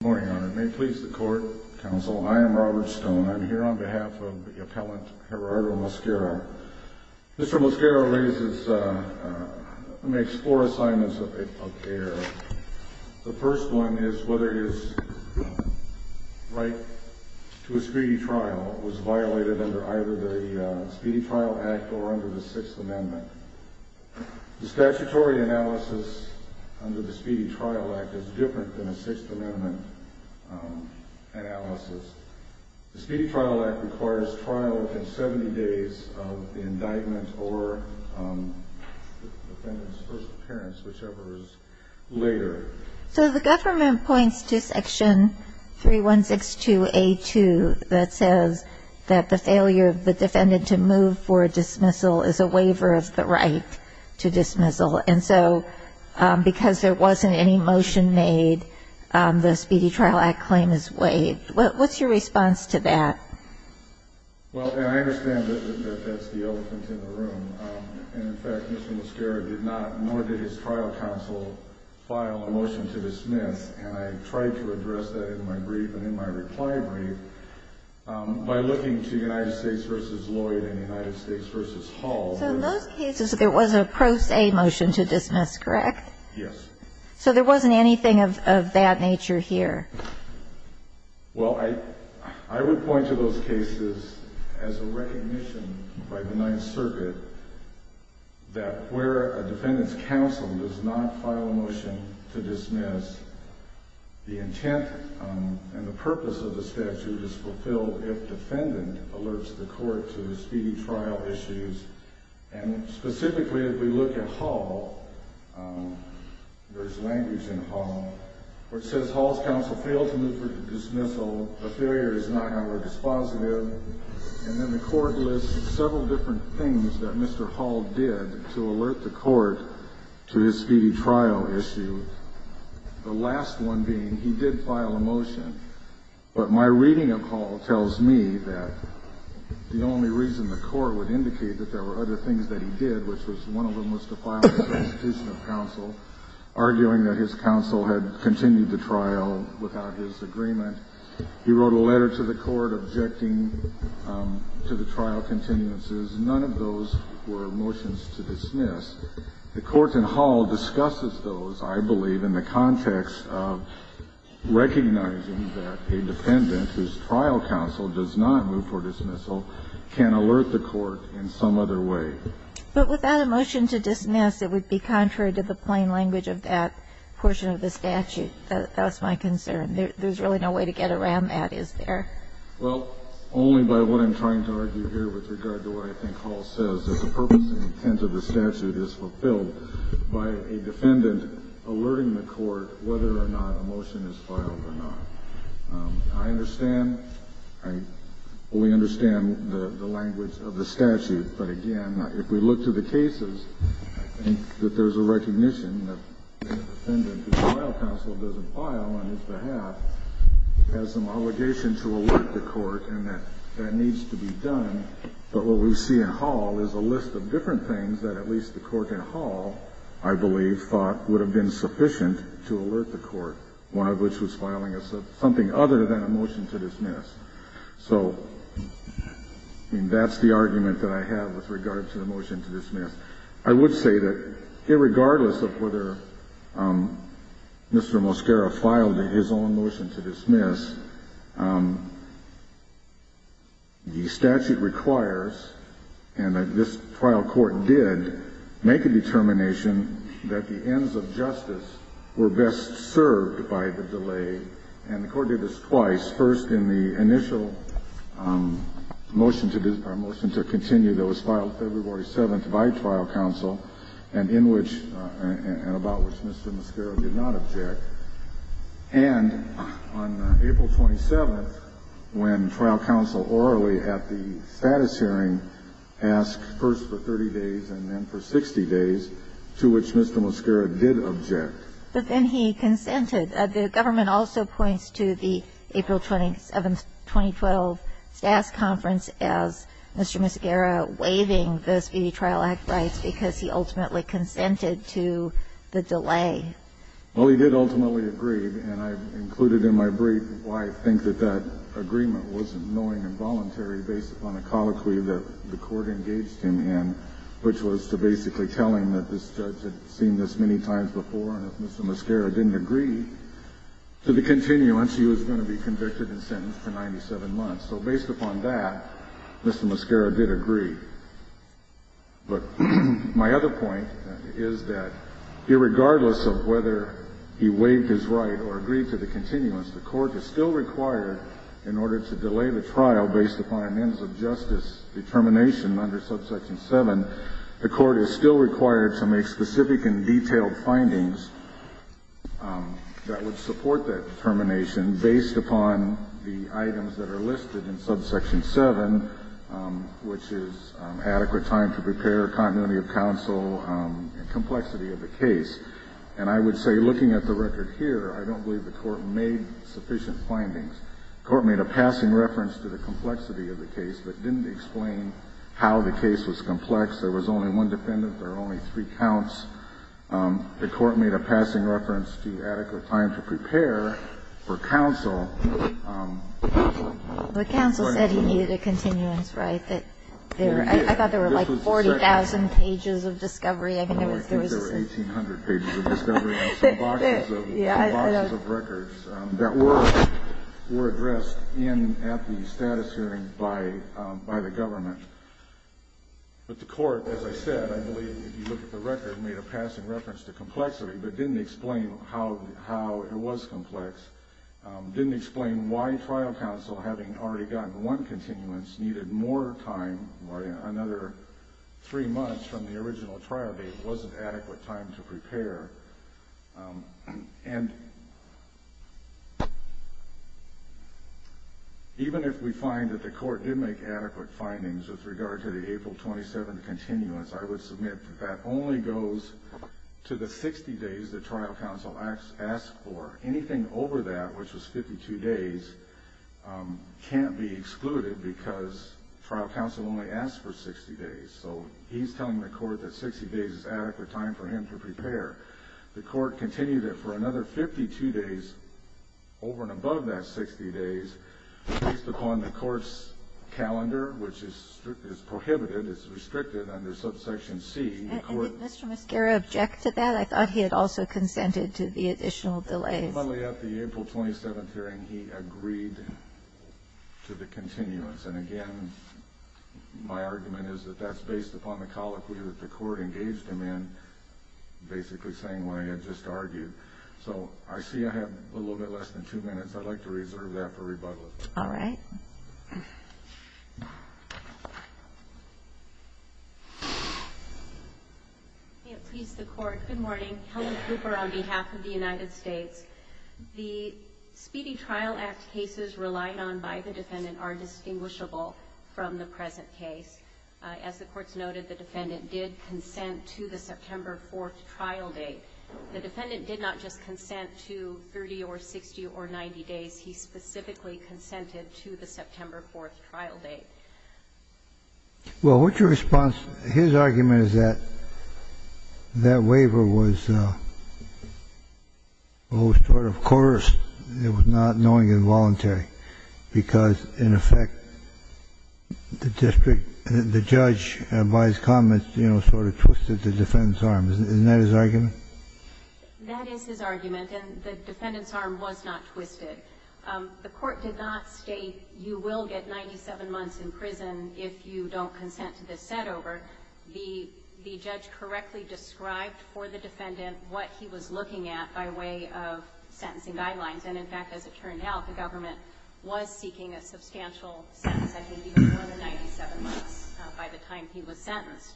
Good morning, Your Honor. May it please the Court, Counsel. I am Robert Stone. I'm here on behalf of the appellant, Gerardo Mosquera. Mr. Mosquera raises four assignments of care. The first one is whether his right to a speedy trial was violated under either the Speedy Trial Act or under the Sixth Amendment. The statutory analysis under the Speedy Trial Act is different than the Sixth Amendment analysis. The Speedy Trial Act requires trial within 70 days of the indictment or the defendant's first appearance, whichever is later. So the government points to Section 3162A2 that says that the failure of the defendant to move for dismissal is a waiver of the right to dismissal. And so because there wasn't any motion made, the Speedy Trial Act claim is waived. What's your response to that? Well, and I understand that that's the elephant in the room. And, in fact, Mr. Mosquera did not, nor did his trial counsel, file a motion to dismiss. And I tried to address that in my brief and in my reply brief by looking to United States v. Lloyd and United States v. Hall. So in those cases, there was a pro se motion to dismiss, correct? Yes. So there wasn't anything of that nature here? Well, I would point to those cases as a recognition by the Ninth Circuit that where a defendant's counsel does not file a motion to dismiss, the intent and the purpose of the statute is fulfilled if defendant alerts the court to the speedy trial issues. And specifically, if we look at Hall, there's language in Hall where it says Hall's counsel failed to move for dismissal. The failure is not in our dispositive. And then the court lists several different things that Mr. Hall did to alert the court to his speedy trial issue, the last one being he did file a motion. But my reading of Hall tells me that the only reason the court would indicate that there were other things that he did, which was one of them was to file a prosecution of counsel, arguing that his counsel had continued the trial without his agreement. He wrote a letter to the court objecting to the trial continuances. None of those were motions to dismiss. The court in Hall discusses those, I believe, in the context of recognizing that a defendant whose trial counsel does not move for dismissal can alert the court in some other way. But without a motion to dismiss, it would be contrary to the plain language of that portion of the statute. That's my concern. There's really no way to get around that, is there? Well, only by what I'm trying to argue here with regard to what I think Hall says, that the purpose and intent of the statute is fulfilled by a defendant alerting the court whether or not a motion is filed or not. I understand. I fully understand the language of the statute. But again, if we look to the cases, I think that there's a recognition that a defendant whose trial counsel doesn't file on his behalf has some obligation to alert the court and that that needs to be done. But what we see in Hall is a list of different things that at least the court in Hall, I believe, thought would have been sufficient to alert the court, one of which was filing something other than a motion to dismiss. So that's the argument that I have with regard to the motion to dismiss. I would say that irregardless of whether Mr. Mosquera filed his own motion to dismiss, the statute requires, and this trial court did, make a determination that the ends of justice were best served by the delay. And the court did this twice, first in the initial motion to continue that was filed February 7th by trial counsel and in which and about which Mr. Mosquera did not object, and on April 27th, when trial counsel orally at the status hearing asked first for 30 days and then for 60 days, to which Mr. Mosquera did object. But then he consented. The government also points to the April 27th, 2012, STAS conference as Mr. Mosquera waiving the Speedy Trial Act rights because he ultimately consented to the delay. Well, he did ultimately agree, and I've included in my brief why I think that that agreement wasn't knowing and voluntary based upon a colloquy that the court engaged him in, which was to basically tell him that this judge had seen this many times before and if Mr. Mosquera didn't agree to the continuance, he was going to be convicted and sentenced for 97 months. So based upon that, Mr. Mosquera did agree. But my other point is that irregardless of whether he waived his right or agreed to the continuance, the court is still required, in order to delay the trial based upon an ends of justice determination under subsection 7, the court is still required to make specific and detailed findings that would support that determination based upon the items that are listed in subsection 7, which is adequate time to prepare, continuity of counsel, and complexity of the case. And I would say, looking at the record here, I don't believe the court made sufficient findings. The court made a passing reference to the complexity of the case, but didn't explain how the case was complex. There was only one defendant. There were only three counts. The court made a passing reference to adequate time to prepare for counsel. But counsel said he needed a continuance, right? I thought there were like 40,000 pages of discovery. I think there were 1,800 pages of discovery and some boxes of records that were addressed in at the status hearing by the government. But the court, as I said, I believe, if you look at the record, made a passing reference to complexity, but didn't explain how it was complex, didn't explain why trial counsel, having already gotten one continuance, needed more time, another three months from the original trial date, wasn't adequate time to prepare. And even if we find that the court did make adequate findings with regard to the April 27th continuance, I would submit that that only goes to the 60 days that trial counsel asked for. Anything over that, which was 52 days, can't be excluded because trial counsel only asked for 60 days. So he's telling the court that 60 days is adequate time for him to prepare. The court continued that for another 52 days, over and above that 60 days, based upon the court's calendar, which is prohibited, it's restricted under subsection C, the court ---- Rebuttally, at the April 27th hearing, he agreed to the continuance. And again, my argument is that that's based upon the colloquy that the court engaged him in, basically saying what I had just argued. So I see I have a little bit less than two minutes. I'd like to reserve that for rebuttal. All right. May it please the Court. Good morning. Helen Cooper on behalf of the United States. The Speedy Trial Act cases relied on by the defendant are distinguishable from the present case. As the courts noted, the defendant did consent to the September 4th trial date. The defendant did not just consent to 30 or 60 or 90 days. He specifically consented to the September 4th trial date. Well, what's your response? His argument is that that waiver was sort of coerced. It was not knowingly involuntary, because, in effect, the district ---- the judge, by his comments, you know, sort of twisted the defendant's arm. Isn't that his argument? That is his argument. And the defendant's arm was not twisted. The court did not state you will get 97 months in prison if you don't consent to this setover. The judge correctly described for the defendant what he was looking at by way of sentencing guidelines. And, in fact, as it turned out, the government was seeking a substantial sentence, I think, even more than 97 months by the time he was sentenced.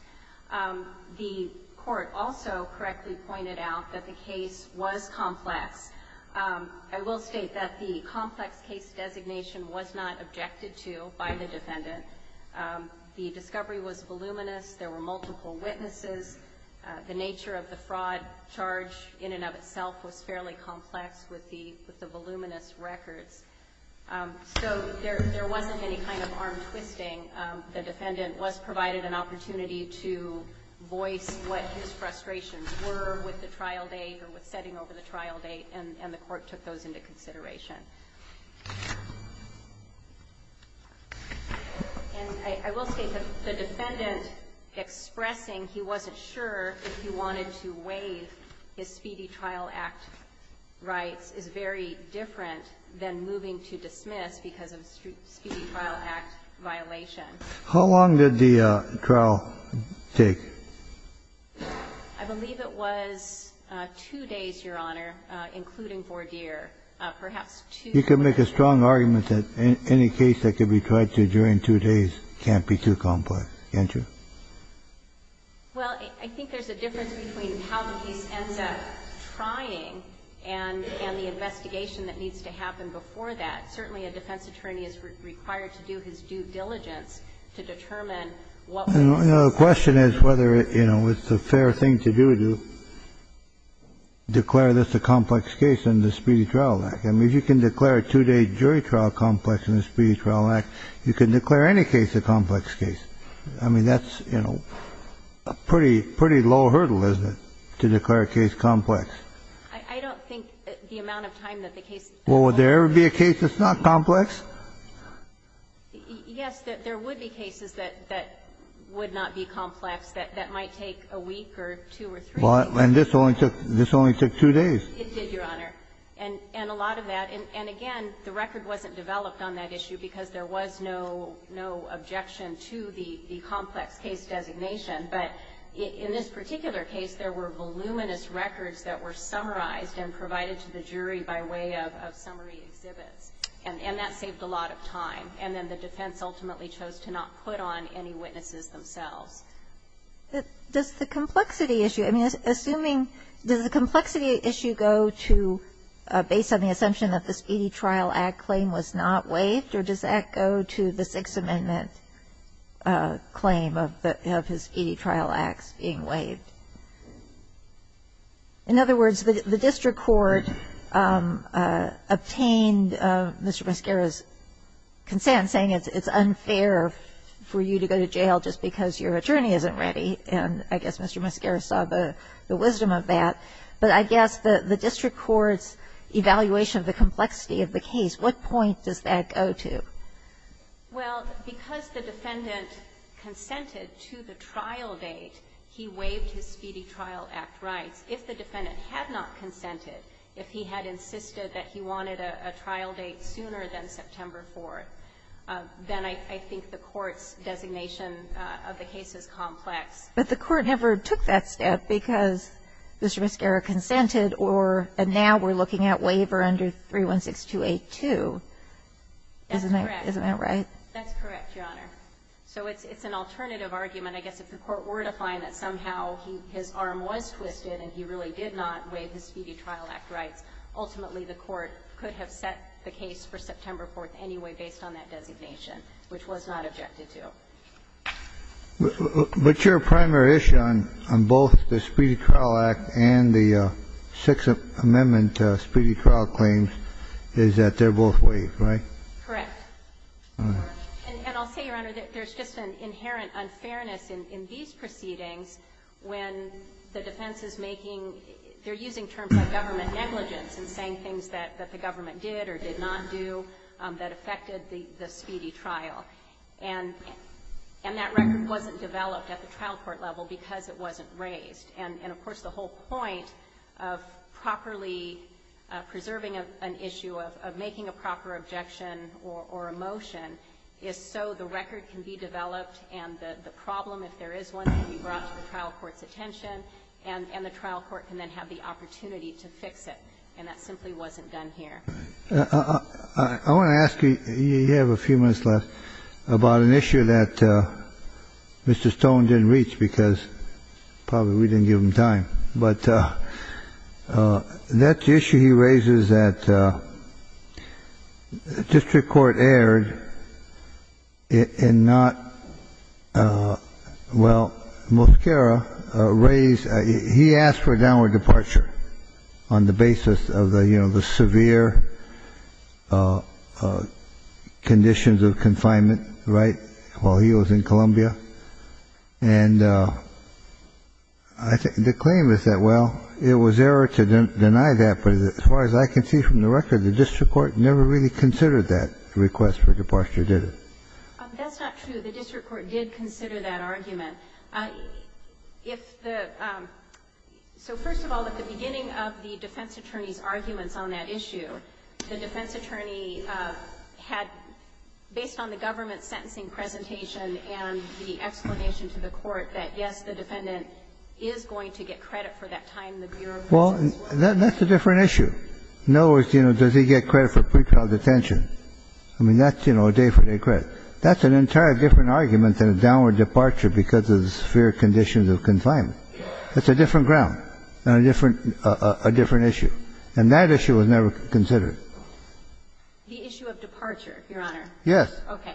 The court also correctly pointed out that the case was complex. I will state that the complex case designation was not objected to by the defendant. The discovery was voluminous. There were multiple witnesses. The nature of the fraud charge in and of itself was fairly complex with the voluminous records. So there wasn't any kind of arm twisting. The defendant was provided an opportunity to voice what his frustrations were with the trial date or with setting over the trial date, and the court took those into consideration. And I will state that the defendant expressing he wasn't sure if he wanted to waive his Speedy Trial Act rights is very different than moving to dismiss because of Speedy Trial Act violation. How long did the trial take? I believe it was two days, Your Honor, including Vordeer. Perhaps two days. You can make a strong argument that any case that can be tried to during two days can't be too complex, can't you? Well, I think there's a difference between how the case ends up trying and the investigation that needs to happen before that. Certainly, a defense attorney is required to do his due diligence to determine what will happen. The question is whether, you know, it's a fair thing to do to declare this a complex case in the Speedy Trial Act. I mean, if you can declare a two-day jury trial complex in the Speedy Trial Act, you can declare any case a complex case. I mean, that's, you know, a pretty low hurdle, isn't it, to declare a case complex? I don't think the amount of time that the case takes. Well, would there ever be a case that's not complex? Yes, there would be cases that would not be complex, that might take a week or two or three days. Well, and this only took two days. It did, Your Honor, and a lot of that. And again, the record wasn't developed on that issue because there was no objection to the complex case designation. But in this particular case, there were voluminous records that were summarized and provided to the jury by way of summary exhibits, and that saved a lot of time. And then the defense ultimately chose to not put on any witnesses themselves. Does the complexity issue, I mean, assuming, does the complexity issue go to, based on the assumption that the Speedy Trial Act claim was not waived, or does that go to the Sixth Amendment claim of the Speedy Trial Acts being waived? In other words, the district court obtained Mr. Mascara's consent, saying it's unfair for you to go to jail just because your attorney isn't ready. And I guess Mr. Mascara saw the wisdom of that. But I guess the district court's evaluation of the complexity of the case, what point does that go to? Well, because the defendant consented to the trial date, he waived his Speedy Trial Act rights. If the defendant had not consented, if he had insisted that he wanted a trial date sooner than September 4th, then I think the court's designation of the case is complex. But the court never took that step because Mr. Mascara consented or, and now we're looking at waiver under 316282, isn't that right? That's correct, Your Honor. So it's an alternative argument. I guess if the court were to find that somehow his arm was twisted and he really did not waive his Speedy Trial Act rights, ultimately the court could have set the case for September 4th anyway based on that designation, which was not objected to. But your primary issue on both the Speedy Trial Act and the Sixth Amendment Speedy Trial claims is that they're both waived, right? Correct. And I'll say, Your Honor, that there's just an inherent unfairness in these proceedings when the defense is making, they're using terms like government negligence and saying things that the government did or did not do that affected the Speedy trial. And that record wasn't developed at the trial court level because it wasn't raised. And, of course, the whole point of properly preserving an issue, of making a proper objection or a motion, is so the record can be developed and the problem, if there is one, can be brought to the trial court's attention, and the trial court can then have the opportunity to fix it. And that simply wasn't done here. I want to ask you, you have a few minutes left, about an issue that Mr. Stone didn't reach because probably we didn't give him time. But that issue he raises that district court aired and not, well, Mosquera raised He asked for a downward departure on the basis of the severe conditions of confinement, right, while he was in Columbia. And the claim is that, well, it was error to deny that. But as far as I can see from the record, the district court never really considered that request for departure, did it? That's not true. The district court did consider that argument. If the So, first of all, at the beginning of the defense attorney's arguments on that issue, the defense attorney had, based on the government's sentencing presentation and the explanation to the court, that, yes, the defendant is going to get credit for that time the bureau was in. Well, that's a different issue. In other words, you know, does he get credit for pretrial detention? I mean, that's, you know, a day for day credit. That's an entirely different argument than a downward departure because of the severe conditions of confinement. It's a different ground and a different issue. And that issue was never considered. The issue of departure, Your Honor. Yes. Okay.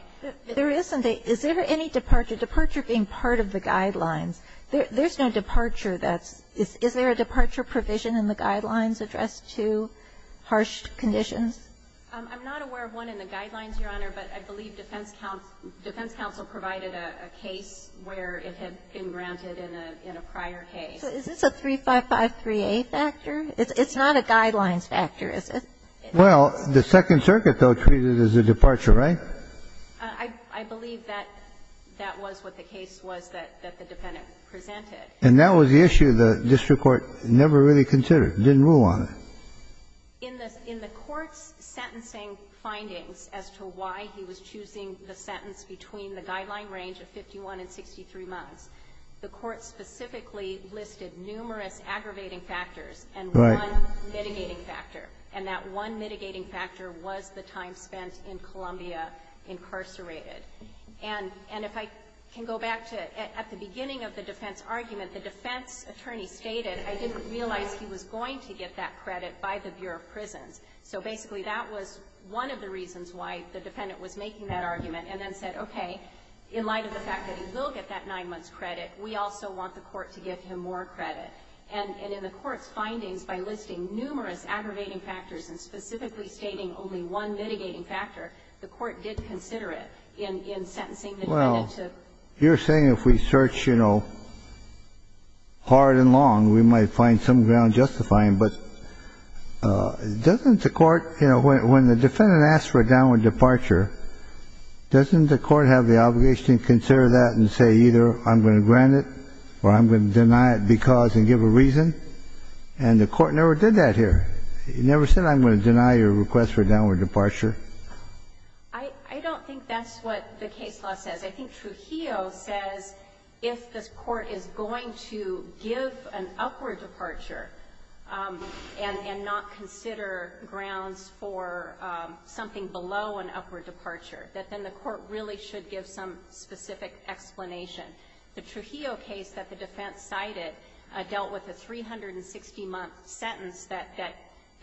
There is something. Is there any departure? Departure being part of the guidelines. There's no departure that's Is there a departure provision in the guidelines addressed to harsh conditions? I'm not aware of one in the guidelines, Your Honor, but I believe defense counsel provided a case where it had been granted in a prior case. So is this a 3553A factor? It's not a guidelines factor, is it? Well, the Second Circuit, though, treated it as a departure, right? I believe that that was what the case was that the defendant presented. And that was the issue the district court never really considered, didn't rule on it. In the court's sentencing findings as to why he was choosing the sentence between the guideline range of 51 and 63 months, the court specifically listed numerous aggravating factors and one mitigating factor. And that one mitigating factor was the time spent in Columbia incarcerated. And if I can go back to at the beginning of the defense argument, the defense realized he was going to get that credit by the Bureau of Prisons. So basically, that was one of the reasons why the defendant was making that argument and then said, okay, in light of the fact that he will get that nine months credit, we also want the court to give him more credit. And in the court's findings, by listing numerous aggravating factors and specifically stating only one mitigating factor, the court did consider it in sentencing the defendant to. Well, you're saying if we search, you know, hard and long, we might find some ground justifying. But doesn't the court, you know, when the defendant asks for a downward departure, doesn't the court have the obligation to consider that and say either I'm going to grant it or I'm going to deny it because and give a reason? And the court never did that here. It never said I'm going to deny your request for a downward departure. I don't think that's what the case law says. I think Trujillo says if this court is going to give an upward departure and not consider grounds for something below an upward departure, that then the court really should give some specific explanation. The Trujillo case that the defense cited dealt with a 360-month sentence that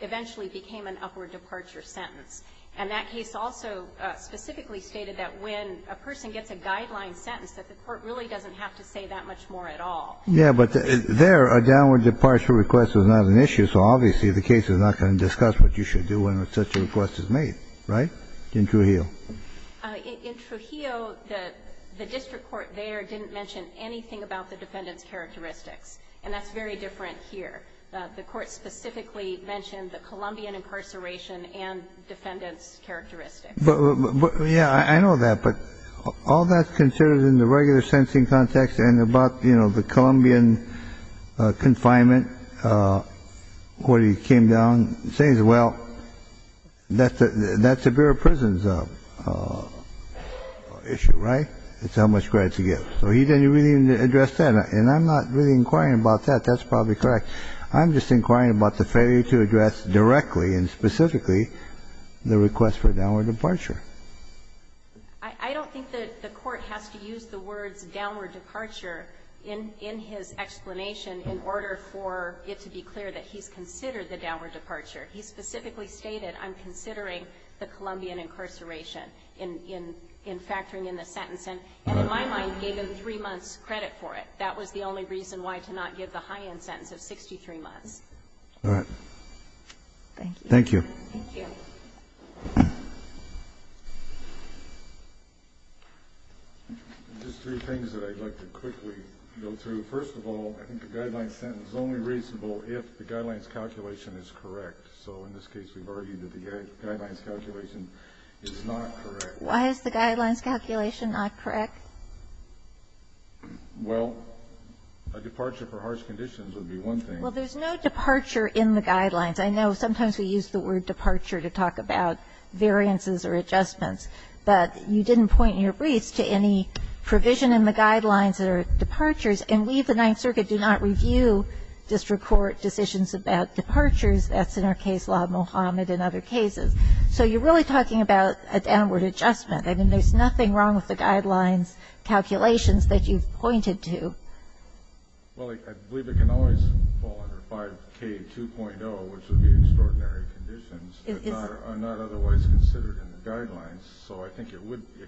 eventually became an upward departure sentence. And that case also specifically stated that when a person gets a guideline sentence, that the court really doesn't have to say that much more at all. Yeah, but there, a downward departure request was not an issue, so obviously the case is not going to discuss what you should do when such a request is made, right, in Trujillo? In Trujillo, the district court there didn't mention anything about the defendant's characteristics, and that's very different here. The court specifically mentioned the Colombian incarceration and defendant's characteristics. But, yeah, I know that. But all that's considered in the regular sentencing context and about, you know, the Colombian confinement, what he came down and says, well, that's a bureau of prison's issue, right? It's how much credit you get. So he didn't really address that. And I'm not really inquiring about that. That's probably correct. I'm just inquiring about the failure to address directly and specifically the request for a downward departure. I don't think that the court has to use the words downward departure in his explanation in order for it to be clear that he's considered the downward departure. He specifically stated, I'm considering the Colombian incarceration in factoring in the sentence, and in my mind gave him three months' credit for it. That was the only reason why to not give the high-end sentence of 63 months. All right. Thank you. Thank you. Thank you. Just three things that I'd like to quickly go through. First of all, I think the Guidelines sentence is only reasonable if the Guidelines calculation is correct. So in this case, we've argued that the Guidelines calculation is not correct. Why is the Guidelines calculation not correct? Well, a departure for harsh conditions would be one thing. Well, there's no departure in the Guidelines. I know sometimes we use the word departure to talk about variances or adjustments. But you didn't point in your briefs to any provision in the Guidelines that are departures. And we, the Ninth Circuit, do not review district court decisions about departures. That's in our case law, Mohamed, and other cases. So you're really talking about a downward adjustment. I mean, there's nothing wrong with the Guidelines calculations that you've pointed to. Well, I believe it can always fall under 5K2.0, which would be extraordinary conditions, but not otherwise considered in the Guidelines. So I think it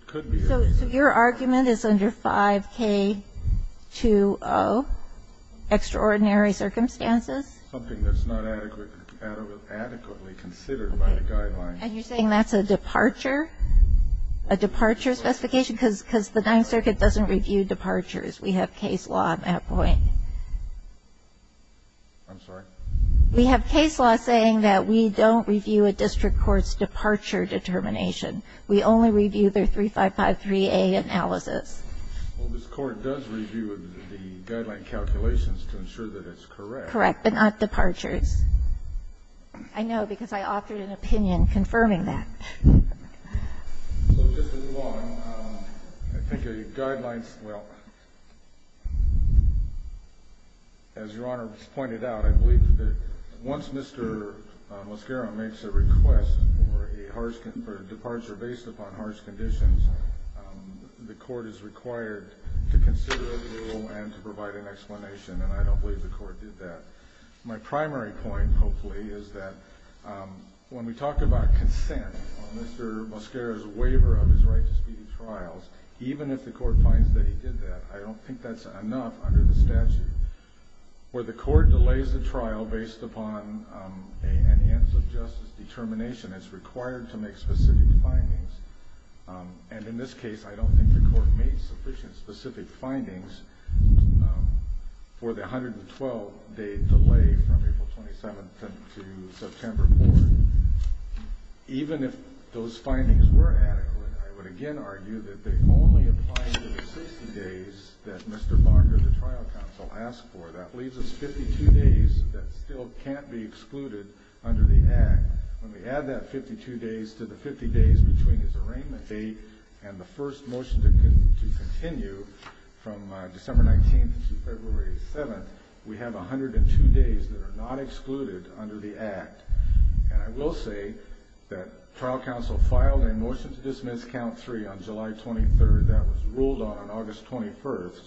could be. So your argument is under 5K2.0, extraordinary circumstances? Something that's not adequately considered by the Guidelines. And you're saying that's a departure? A departure specification? Because the Ninth Circuit doesn't review departures. We have case law at that point. I'm sorry? We have case law saying that we don't review a district court's departure determination. We only review their 3553A analysis. Well, this Court does review the Guideline calculations to ensure that it's correct. Correct, but not departures. I know, because I authored an opinion confirming that. So just to move on, I think a Guidelines, well, as Your Honor has pointed out, I believe that once Mr. Mosquero makes a request for a departure based upon harsh conditions, the Court is required to consider a rule and to provide an explanation, and I don't believe the Court did that. My primary point, hopefully, is that when we talk about consent on Mr. Mosquero's waiver of his right to speedy trials, even if the Court finds that he did that, I don't think that's enough under the statute. Where the Court delays the trial based upon an ends of justice determination, it's required to make specific findings, and in this case, I don't think the Court made sufficient specific findings for the 112-day delay from April 27th to September 4th. Even if those findings were adequate, I would again argue that they only apply to the 60 days that Mr. Barker, the trial counsel, asked for. That leaves us 52 days that still can't be excluded under the Act. When we add that 52 days to the 50 days between his arraignment date and the first motion to continue from December 19th to February 7th, we have 102 days that are not excluded under the Act, and I will say that trial counsel filed a motion to dismiss count three on July 23rd that was ruled on August 21st,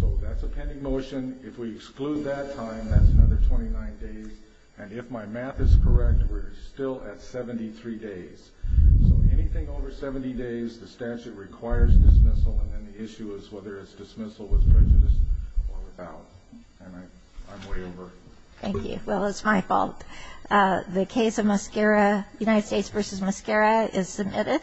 so that's a pending motion. If we exclude that time, that's another 29 days. And if my math is correct, we're still at 73 days. So anything over 70 days, the statute requires dismissal, and then the issue is whether it's dismissal with prejudice or without. And I'm way over. Thank you. Well, it's my fault. The case of Mosquera, United States v. Mosquera, is submitted.